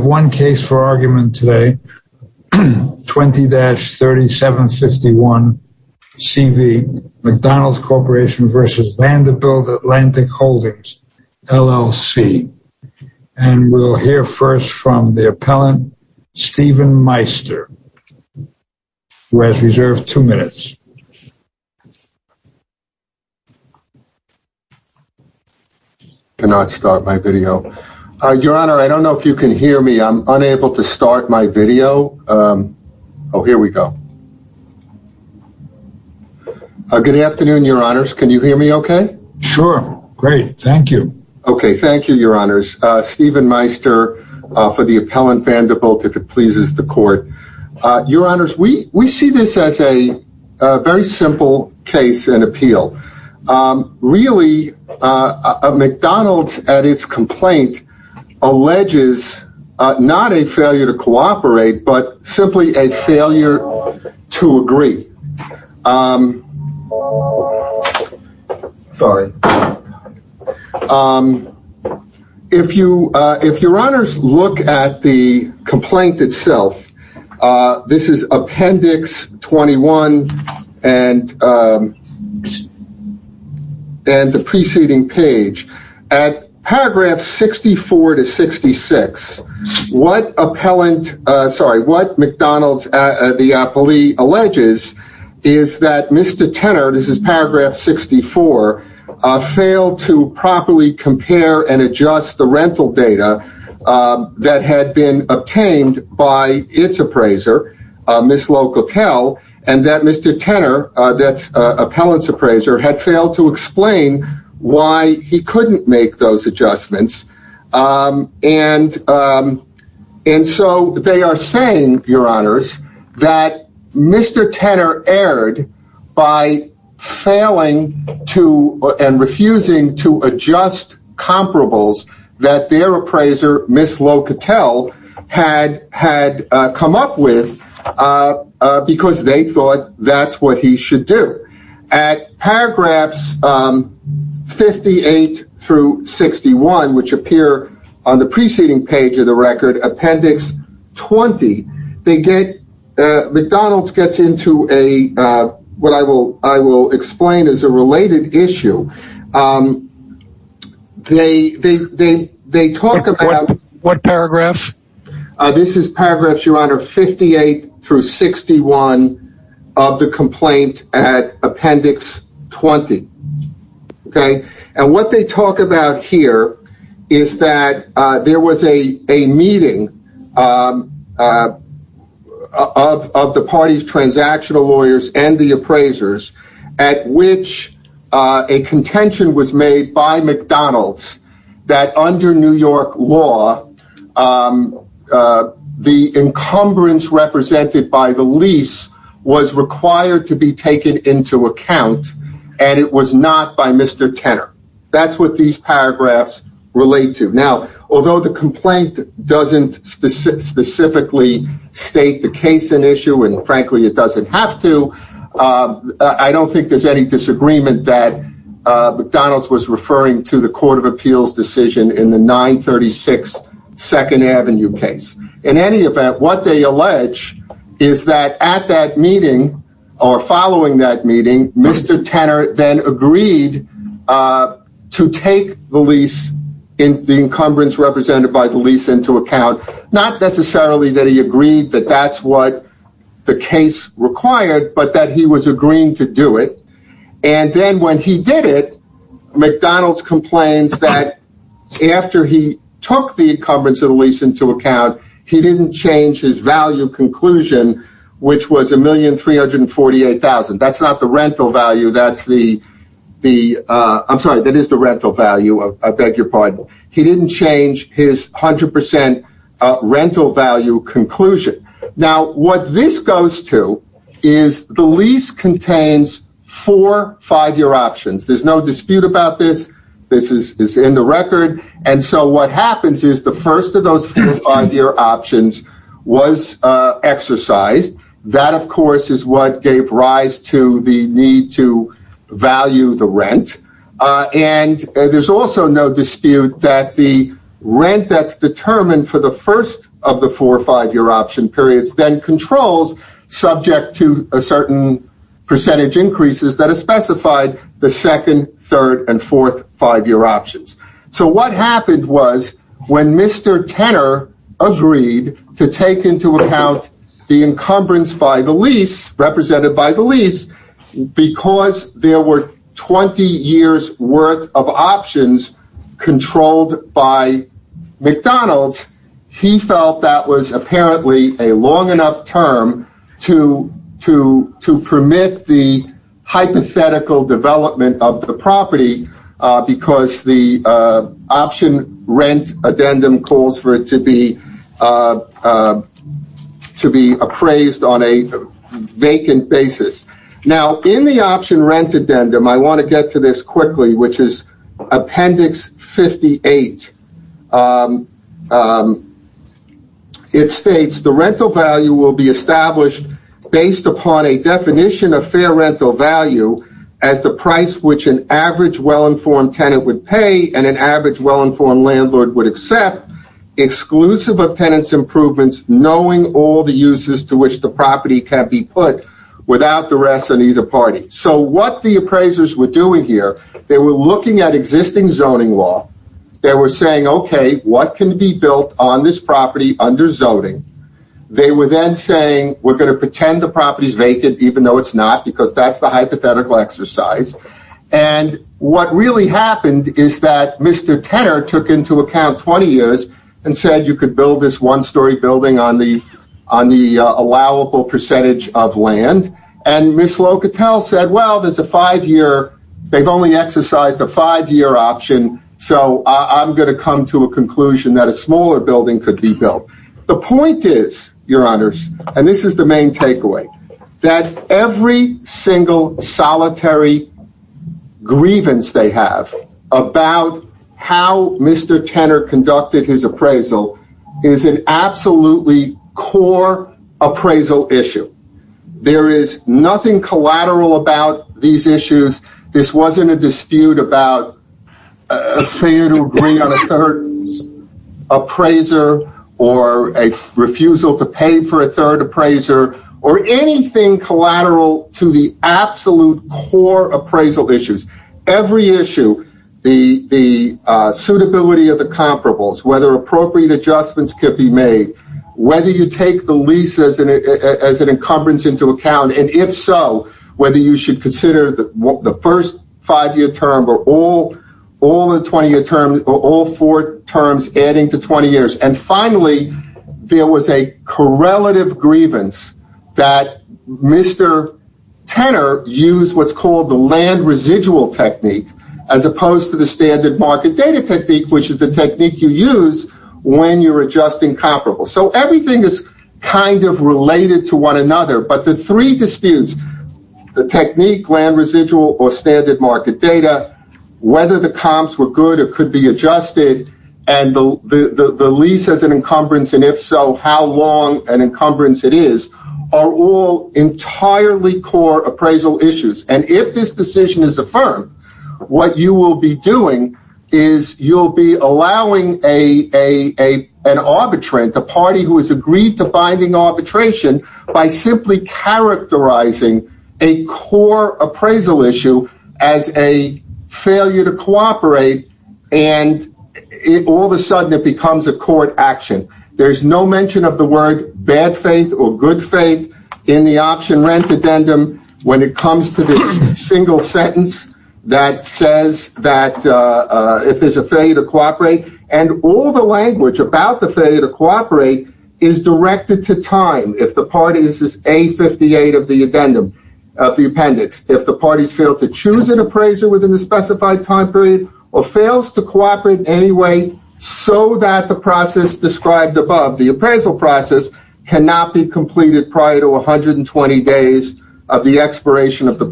We have one case for argument today, 20-3751CV, McDonald's Corporation v. Vanderbilt Atlantic Holdings LLC, and we'll hear first from the appellant, Stephen Meister, who has reserved two minutes. I cannot start my video. Your Honor, I don't know if you can hear me. I'm unable to start my video. Oh, here we go. Good afternoon, Your Honors. Can you hear me okay? Sure. Great. Thank you. Okay. Thank you, Your Honors. Stephen Meister for the appellant Vanderbilt, if it was a very simple case and appeal. Really, McDonald's at its complaint alleges not a failure to cooperate, but simply a failure to agree. Sorry. If Your Honors look at the and the preceding page, at paragraph 64 to 66, what McDonald's, the appellee alleges is that Mr. Tenor, this is paragraph 64, failed to properly compare and adjust the rental data that had been obtained by its appraiser, Ms. Locatell, and that Mr. Tenor, that's appellant's appraiser, had failed to explain why he couldn't make those adjustments. And so they are saying, Your Honors, that Mr. Tenor erred by failing to and refusing to comply with what their appraiser, Ms. Locatell, had come up with, because they thought that's what he should do. At paragraphs 58 through 61, which appear on the preceding page of the record, appendix 20, McDonald's gets into what I will explain is a related issue. They talk about... What paragraphs? This is paragraphs, Your Honor, 58 through 61 of the complaint at appendix 20. Okay? And what they talk about here is that there was a meeting of the party's transactional lawyers and the appraisers at which a contention was made by McDonald's that, under New York law, the encumbrance represented by the lease was required to be taken into account and it was not by Mr. Tenor. That's what these paragraphs relate to. Now, although the complaint doesn't specifically state the case in issue, and frankly it doesn't have to, I don't think there's any disagreement that McDonald's was referring to the Court of Appeals decision in the 936 Second Avenue case. In any event, what they allege is that at that meeting, or following that meeting, Mr. Tenor then agreed to take the lease, the encumbrance represented by the lease, into account. Not necessarily that he agreed that that's what the case required, but that he was agreeing to do it. And then when he did it, McDonald's complains that after he took the encumbrance of the lease into account, he didn't change his value conclusion, which was $1,348,000. That's not the rental value, that's the, I'm sorry, that is the rental value, I beg your pardon. He didn't change his 100% rental value conclusion. Now, what this goes to is the lease contains four five-year options. There's no dispute about this, this is in the record, and so what happens is the first of those four five-year options was exercised. That, of course, is what gave rise to the need to value the rent, and there's also no dispute that the rent that's determined for the first of the four five-year option periods then controls, subject to a certain percentage increases that are specified, the second, third, and fourth five-year options. So what happened was when Mr. Tenor agreed to take into account the encumbrance by the lease, represented by the lease, because there were 20 years worth of options controlled by McDonald's, he felt that was apparently a long enough term to permit the hypothetical development of the property because the option rent addendum calls for it to be appraised on a vacant basis. In the option rent addendum, I want to get to this quickly, which is appendix 58. It states, the rental value will be established based upon a definition of fair rental value as the price which an average well-informed tenant would pay and an average well-informed landlord would accept, exclusive of tenants' improvements, knowing all the uses to which the property can be put, without the rest on either party. So what the appraisers were doing here, they were looking at existing zoning law. They were saying, okay, what can be built on this property under zoning? They were then saying, we're going to pretend the property is vacant, even though it's not, because that's the hypothetical exercise. And what really happened is that Mr. Tenor took into account 20 years and said you could build this one-story building on the allowable percentage of land. And Ms. Locatell said, well, there's a five-year, they've only exercised a five-year option, so I'm going to come to a conclusion that a smaller building could be built. The point is, your honors, and this is the main takeaway, that every single solitary grievance they have about how Mr. Tenor conducted his appraisal is an absolutely core appraisal issue. There is nothing collateral about these issues. This wasn't a dispute about a failure to agree on a third appraiser or a refusal to pay for a third appraiser or anything collateral to the absolute core appraisal issues. Every issue, the suitability of the comparables, whether appropriate adjustments could be made, whether you take the lease as an encumbrance into account, and if so, whether you should consider the first five-year term or all four terms adding to 20 years. And finally, there was a correlative grievance that Mr. Tenor used what's called the land residual technique as opposed to the standard market data technique, which is the technique you use when you're adjusting comparables. So everything is kind of related to one another, but the three disputes, the technique, land residual, or standard market data, whether the and the lease as an encumbrance, and if so, how long an encumbrance it is, are all entirely core appraisal issues. And if this decision is affirmed, what you will be doing is you'll be allowing an arbitrate, the party who has agreed to binding arbitration, by simply characterizing a core appraisal issue as a failure to cooperate, and all of a sudden it becomes a court action. There's no mention of the word bad faith or good faith in the option rent addendum when it comes to this single sentence that says that if there's a failure to cooperate, and all the language about the failure to cooperate is directed to time. If the party, this is A58 of the addendum, of the appendix, if the parties fail to choose an appraiser within the specified time period, or fails to cooperate in any way, so that the process described above, the appraisal process, cannot be completed prior to 120 days of the expiration of the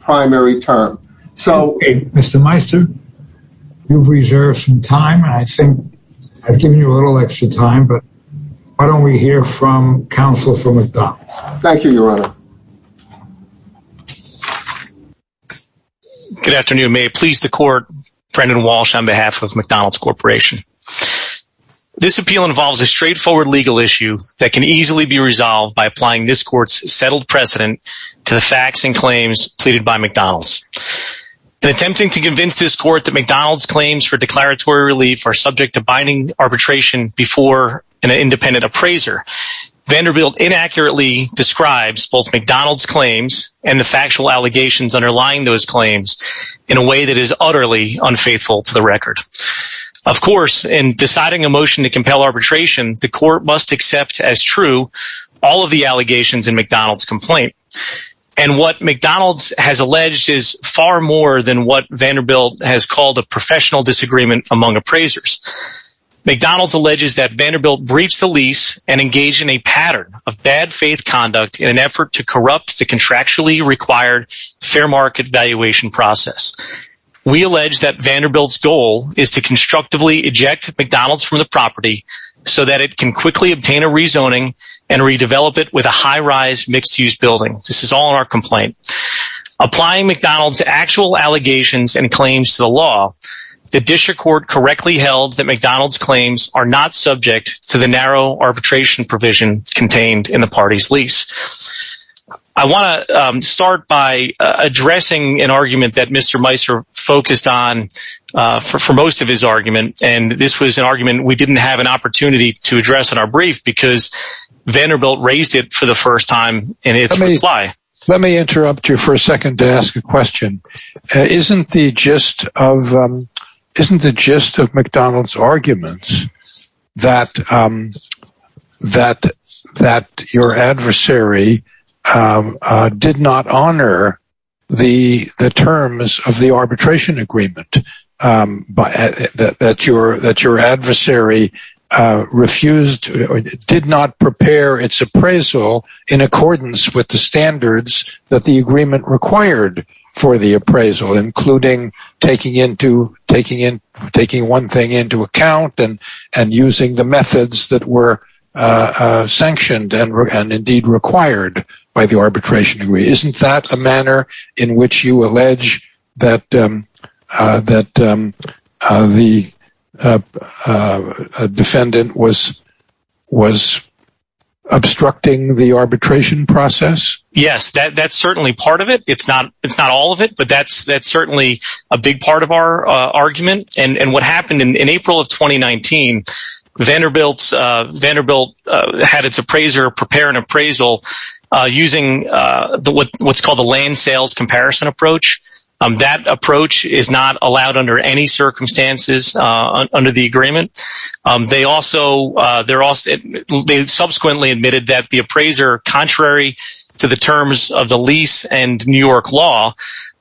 primary term. So, Mr. Meister, you've reserved some time, and I think I've given you a little extra time, but why don't we hear from counsel for McDonald's. Thank you, Your Honor. Good afternoon. May it please the court, Brendan Walsh on behalf of McDonald's Corporation. This appeal involves a straightforward legal issue that can easily be resolved by applying this court's settled precedent to the facts and claims pleaded by McDonald's. In attempting to convince this court that McDonald's claims for declaratory relief are independent appraiser, Vanderbilt inaccurately describes both McDonald's claims and the factual allegations underlying those claims in a way that is utterly unfaithful to the record. Of course, in deciding a motion to compel arbitration, the court must accept as true all of the allegations in McDonald's complaint. And what McDonald's has alleged is far more than what Vanderbilt has called a professional disagreement among appraisers. McDonald's briefs the lease and engages in a pattern of bad faith conduct in an effort to corrupt the contractually required fair market valuation process. We allege that Vanderbilt's goal is to constructively eject McDonald's from the property so that it can quickly obtain a rezoning and redevelop it with a high-rise mixed-use building. This is all in our complaint. Applying McDonald's actual allegations and claims to the law, the district court correctly held that McDonald's claims are not subject to the narrow arbitration provision contained in the party's lease. I want to start by addressing an argument that Mr. Meiser focused on for most of his argument, and this was an argument we didn't have an opportunity to address in our brief because Vanderbilt raised it for the first time in its reply. Let me interrupt you for a second to ask a question. Isn't the gist of McDonald's arguments that your adversary did not honor the terms of the arbitration agreement, that your adversary refused or did not prepare its appraisal in accordance with the standards that the agreement required for the appraisal, including taking one thing into account and using the methods that were sanctioned and required by the arbitration agreement? Isn't that a manner in which you process? Yes, that's certainly part of it. It's not all of it, but that's certainly a big part of our argument. What happened in April of 2019, Vanderbilt had its appraiser prepare an appraisal using what's called a land sales comparison approach. That approach is not contrary to the terms of the lease and New York law.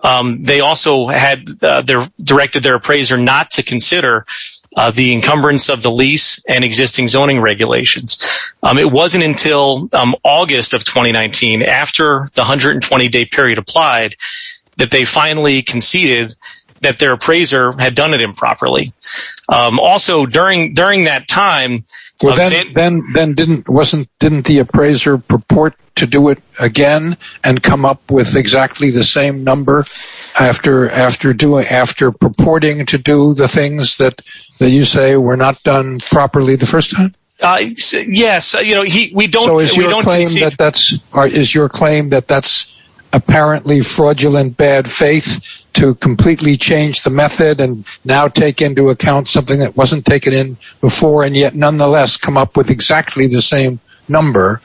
They also directed their appraiser not to consider the encumbrance of the lease and existing zoning regulations. It wasn't until August of 2019 after the 120-day period applied that they finally conceded that their appraiser had done it again and come up with exactly the same number after purporting to do the things that you say were not done properly the first time? Is your claim that that's apparently fraudulent bad faith to completely change the method and now take into account something that wasn't taken in before and yet nonetheless come up with exactly the same number?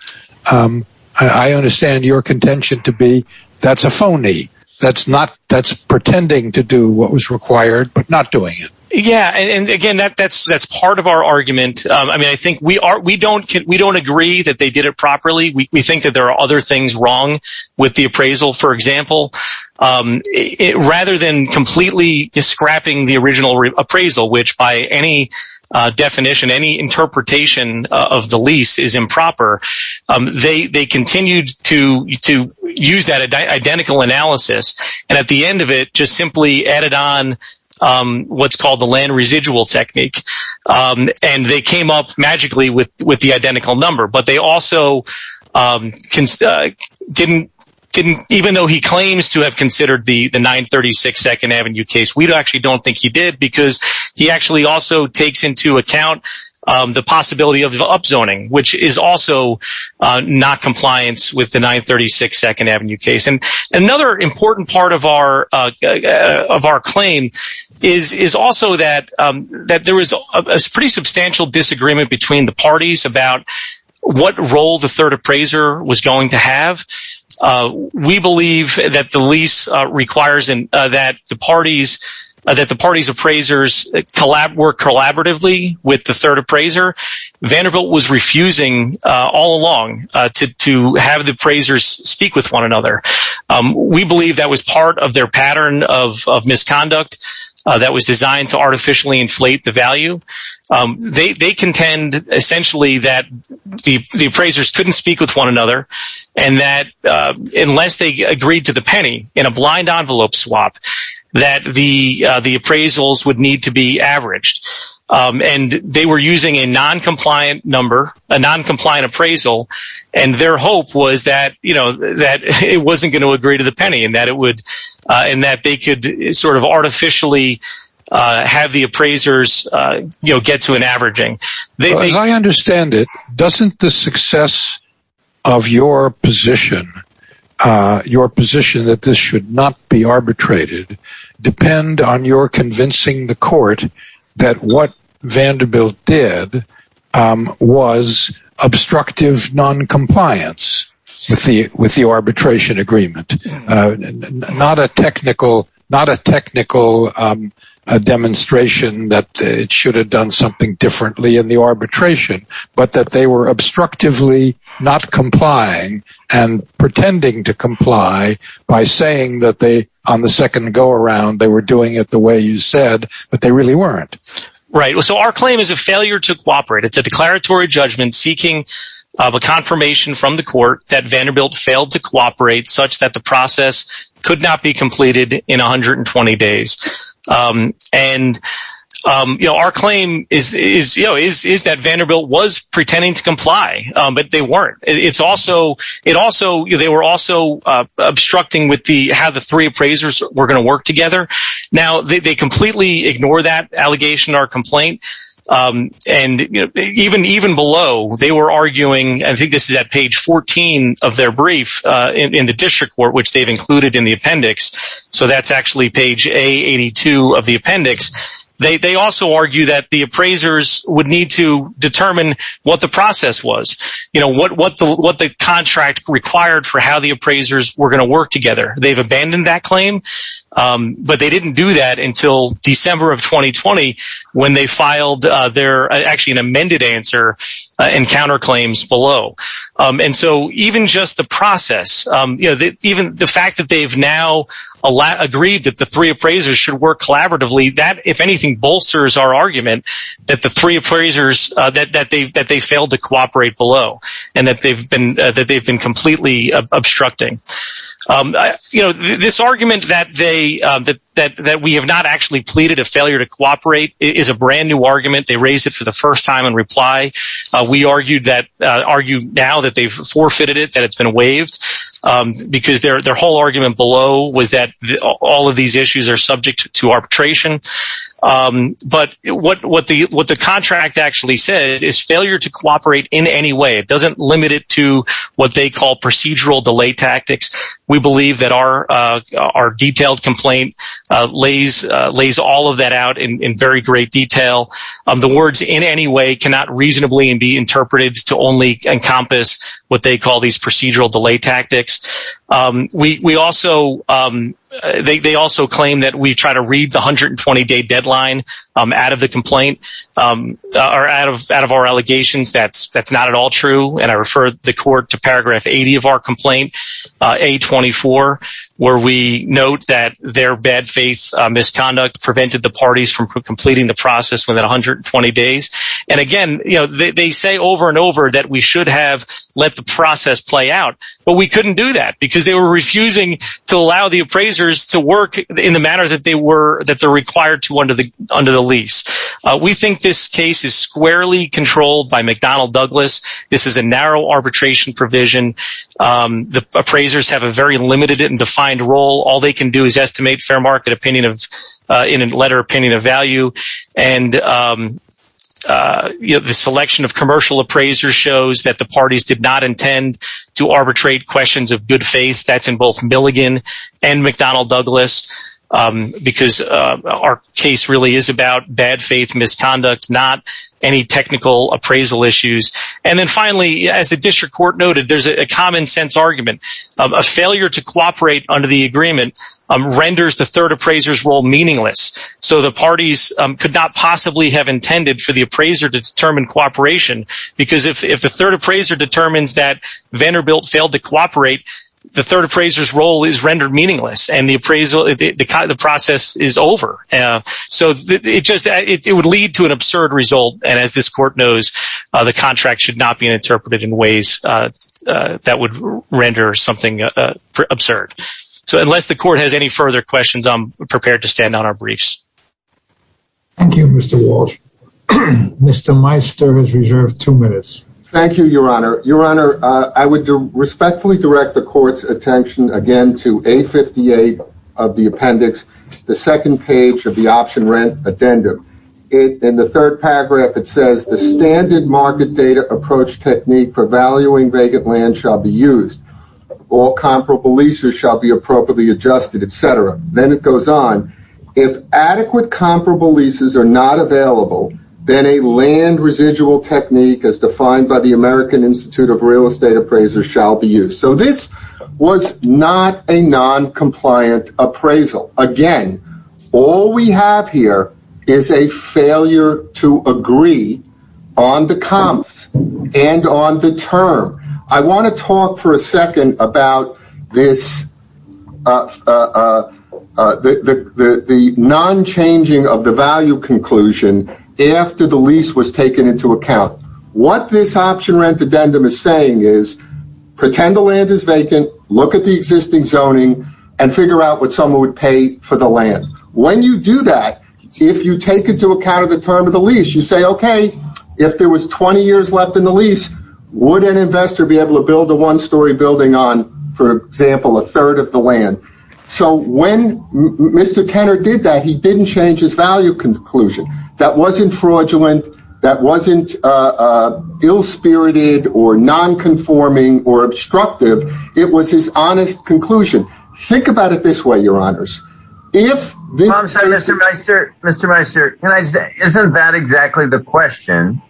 I understand your contention to be that's a phony. That's pretending to do what was required but not doing it. Yeah, and again, that's part of our argument. I mean, I think we don't agree that they did it properly. We think that there are other things wrong with the appraisal, for example, rather than completely scrapping the original appraisal which by any definition, any interpretation of the lease is improper. They continued to use that identical analysis and at the end of it just simply added on what's called the land residual technique and they came up magically with the identical number but they also didn't, even though he claims to have considered the 936 2nd Avenue case, we actually don't think he did because he actually also takes into account the possibility of upzoning which is also not compliance with the 936 2nd Avenue case and another important part of our claim is also that there was a pretty substantial disagreement between the was going to have. We believe that the lease requires that the party's appraisers work collaboratively with the third appraiser. Vanderbilt was refusing all along to have the appraisers speak with one another. We believe that was part of their pattern of misconduct that was designed to artificially inflate the value. They contend essentially that the appraisers couldn't speak with one another and that unless they agreed to the penny in a blind envelope swap that the appraisals would need to be averaged and they were using a non-compliant number, a non-compliant appraisal and their hope was that it wasn't going to agree to the penny and that they could sort of artificially have the appraisers get to an averaging. As I understand it, doesn't the success of your position that this should not be arbitrated depend on your convincing the court that what Vanderbilt did was obstructive non-compliance with the arbitration agreement? Not a technical demonstration that it should have done something differently in the arbitration but that they were obstructively not complying and pretending to comply by saying that they on the second go-around they were doing it the way you said but they really weren't. Right, so our claim is a failure to cooperate. It's a declaratory judgment seeking of a confirmation from the court that Vanderbilt failed to cooperate such that the process could not be completed in 120 days. Our claim is that Vanderbilt was pretending to comply but they weren't. They were also obstructing with the how the three appraisers were going to work together. Now they completely ignore that allegation or complaint and even below they were arguing, I think this is at page 14 of their brief in the district court, which they've included in the appendix, so that's actually page A82 of the appendix, they also argue that the appraisers would need to determine what the process was, you know, what the contract required for how the appraisers were going to work together. They've abandoned that claim but they didn't do that until December of 2020 when they filed their, actually an amended answer and counterclaims below. And so even just the process, you know, even the fact that they've now agreed that the three appraisers should work collaboratively, that if anything bolsters our argument that the three appraisers, that they failed to cooperate below and that they've been completely obstructing. You know, this argument that we have not actually pleaded a failure to comply. We argued now that they've forfeited it, that it's been waived because their whole argument below was that all of these issues are subject to arbitration. But what the contract actually says is failure to cooperate in any way. It doesn't limit it to what they call procedural delay tactics. We believe that our detailed complaint lays all of that out in very great detail. The words in any way cannot reasonably and be interpreted to only encompass what they call these procedural delay tactics. We also, they also claim that we try to read the 120-day deadline out of the complaint or out of our allegations. That's not at all true. And I refer the court to paragraph 80 of our complaint, A24, where we note that their bad faith misconduct prevented the parties from completing the process within 120 days. And again, you know, they say over and over that we should have let the process play out, but we couldn't do that because they were refusing to allow the appraisers to work in the manner that they were, that they're required to under the, under the lease. We think this case is squarely controlled by McDonnell Douglas. This is a narrow arbitration provision. The appraisers have a very limited and defined role. All they can do is estimate fair market opinion of, in a letter, opinion of value. And, you know, the selection of commercial appraisers shows that the parties did not intend to arbitrate questions of good faith. That's in both Milligan and McDonnell Douglas, because our case really is about bad faith misconduct, not any technical appraisal issues. And then finally, as the district court noted, there's a common sense argument of a failure to cooperate under the agreement renders the third appraiser's role meaningless. So the parties could not possibly have intended for the appraiser to determine cooperation, because if the third appraiser determines that Vanderbilt failed to cooperate, the third appraiser's role is rendered meaningless and the appraisal, the process is over. So it just, it would lead to an absurd result. And as this court knows, the contract should not be interpreted in ways that would render something absurd. So unless the court has any further questions, I'm prepared to stand on our briefs. Thank you, Mr. Walsh. Mr. Meister has reserved two minutes. Thank you, Your Honor. Your Honor, I would respectfully direct the court's attention again to A58 of the appendix, the second page of the option rent addendum. In the third paragraph, it says the standard market data approach technique for valuing vacant land shall be used. All comparable leases shall be appropriately adjusted, etc. Then it goes on. If adequate comparable leases are not available, then a land residual technique as defined by the American Institute of Real Estate Appraisers shall be used. So this was not a noncompliant appraisal. Again, all we have here is a failure to agree on the comps and on the term. I want to talk for a second about the non-changing of the value conclusion after the lease was taken into account. What this option rent addendum is saying is, pretend the land is vacant, look at the existing zoning, and figure out what someone would pay for the land. When you do that, if you take into account the term of the lease, you say, okay, if there was 20 years left in the lease, would an investor be able to build a one-story building on, for example, a third of the land? So when Mr. Kenner did that, he didn't change his value conclusion. That wasn't fraudulent. That wasn't ill-spirited or non-conforming or obstructive. It was his honest conclusion. Think about it this way, your honors. Mr. Meister, isn't that exactly the question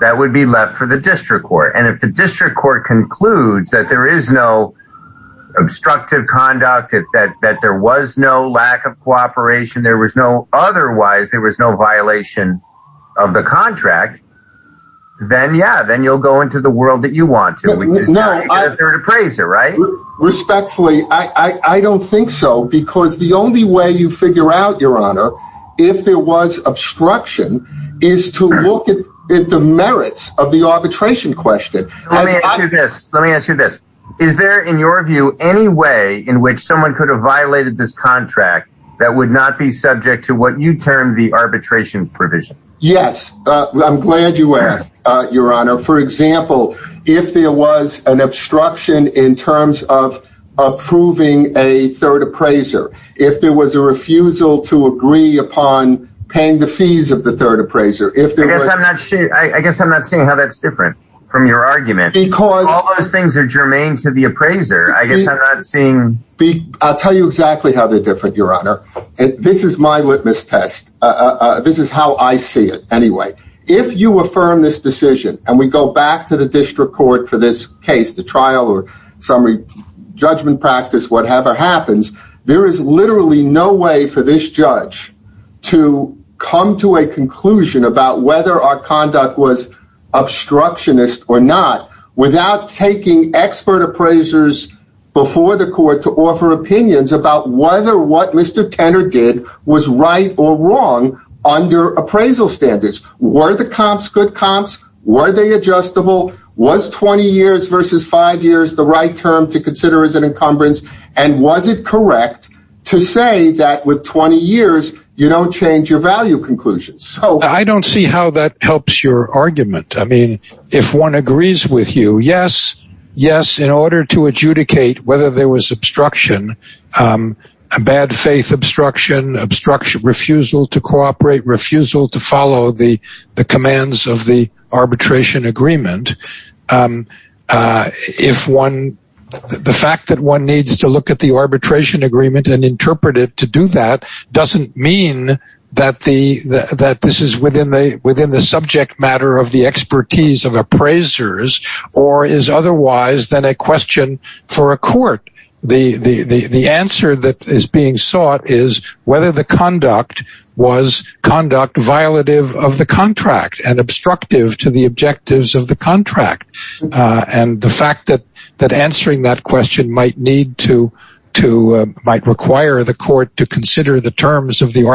that would be left for the district court? And if the district court concludes that there is no obstructive conduct, that there was no lack of cooperation, otherwise there was no violation of the contract, then yeah, then you'll go into the world that you want to. Respectfully, I don't think so, because the only way you figure out, your honor, if there was obstruction is to look at the merits of the arbitration question. Let me ask you this. Let me ask you this. Is there, in your view, any way in which someone could have violated this contract that would not be subject to what you term the arbitration provision? Yes. I'm glad you asked, your honor. For example, if there was an obstruction in terms of approving a third appraiser, if there was a refusal to agree upon paying the fees of the third appraiser. I guess I'm not seeing how that's different from your argument, because all those things are germane to the appraiser. I guess I'm not seeing. I'll tell you exactly how they're different, your honor. This is my litmus test. This is how I see it. Anyway, if you affirm this decision, and we go back to the district court for this case, the trial or summary judgment practice, whatever happens, there is literally no way for this judge to come to a conclusion about whether our conduct was obstructionist or not, without taking expert appraisers before the court to offer opinions about whether what Mr. Kennard did was right or wrong under appraisal standards. Were the comps good comps? Were they adjustable? Was 20 years versus five years the right term to consider as an encumbrance? And was it correct to say that with 20 years, you don't change your value conclusions? I don't see how that helps your argument. I mean, if one agrees with you, yes, yes, in order to adjudicate whether there was obstruction, bad faith obstruction, obstruction, refusal to cooperate, refusal to follow the commands of the arbitration agreement. If one, the fact that one needs to look at the arbitration agreement and interpret it to do that doesn't mean that this is within the subject matter of the expertise of appraisers, or is otherwise than a question for a court. The answer that is being sought is whether the conduct was conduct violative of the contract and obstructive to the objectives of the contract. And the fact that answering that question might require the court to consider the terms of the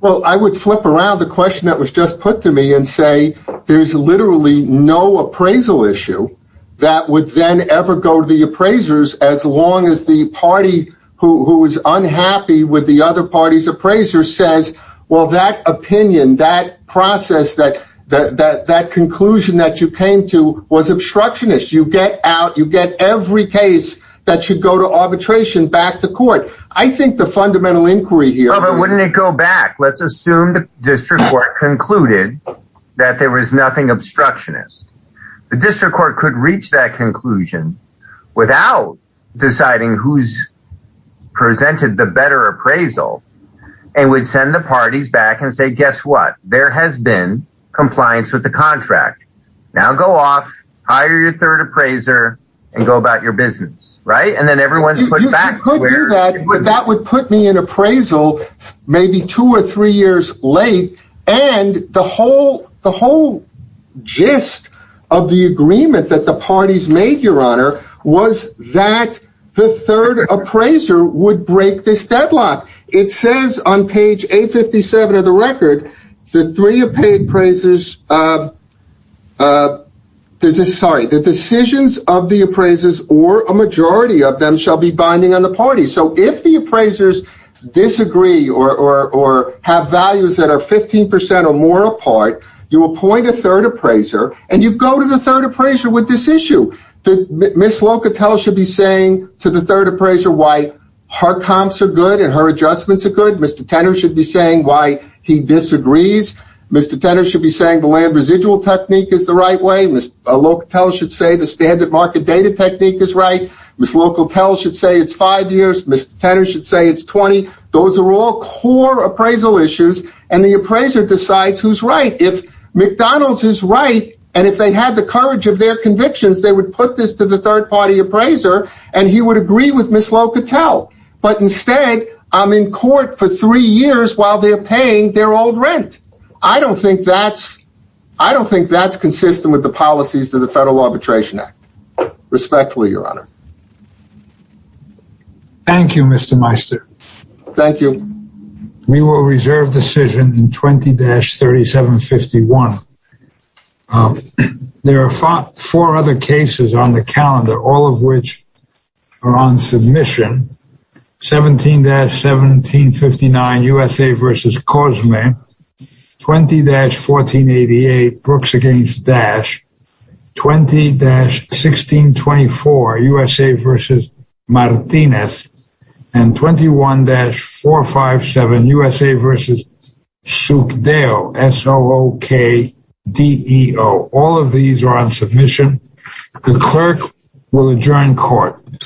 Well, I would flip around the question that was just put to me and say, there's literally no appraisal issue that would then ever go to the appraisers as long as the party who is unhappy with the other parties appraiser says, well, that opinion that process that that that conclusion that you came to was obstructionist, you get out, you get every case that should go to arbitration back to court. I think the fundamental inquiry here let's assume the district court concluded that there was nothing obstructionist. The district court could reach that conclusion without deciding who's presented the better appraisal. And we'd send the parties back and say, guess what, there has been compliance with the contract. Now go off, hire your third appraiser and go about your business, right? And then everyone's put back where that would put me in appraisal, maybe two or three years late. And the whole the whole gist of the agreement that the parties made your honor was that the third appraiser would break this deadlock. It says on page 857 of the record, the three appraisers. Sorry, the decisions of the appraisers or a majority of them shall be binding on the party. So if the appraisers disagree or have values that are 15 percent or more apart, you appoint a third appraiser and you go to the third appraiser with this issue. Miss Locatell should be saying to the third appraiser why her comps are good and her agrees. Mr. Tenor should be saying the land residual technique is the right way. Miss Locatell should say the standard market data technique is right. Miss Locatell should say it's five years. Mr. Tenor should say it's 20. Those are all core appraisal issues. And the appraiser decides who's right. If McDonald's is right and if they had the courage of their convictions, they would put this to the third party appraiser and he would agree with Miss Locatell. But instead, I'm in court for three years while they're paying their old rent. I don't think that's consistent with the policies of the Federal Arbitration Act. Respectfully, your honor. Thank you, Mr. Meister. Thank you. We will reserve decision in 20-3751. There are four other cases on the calendar, all of which are on submission. 17-1759, USA v. Cosme. 20-1488, Brooks v. Dash. 20-1624, USA v. Martinez. And 21-457, USA v. Sukdeo. All of these are on submission. The clerk will adjourn court.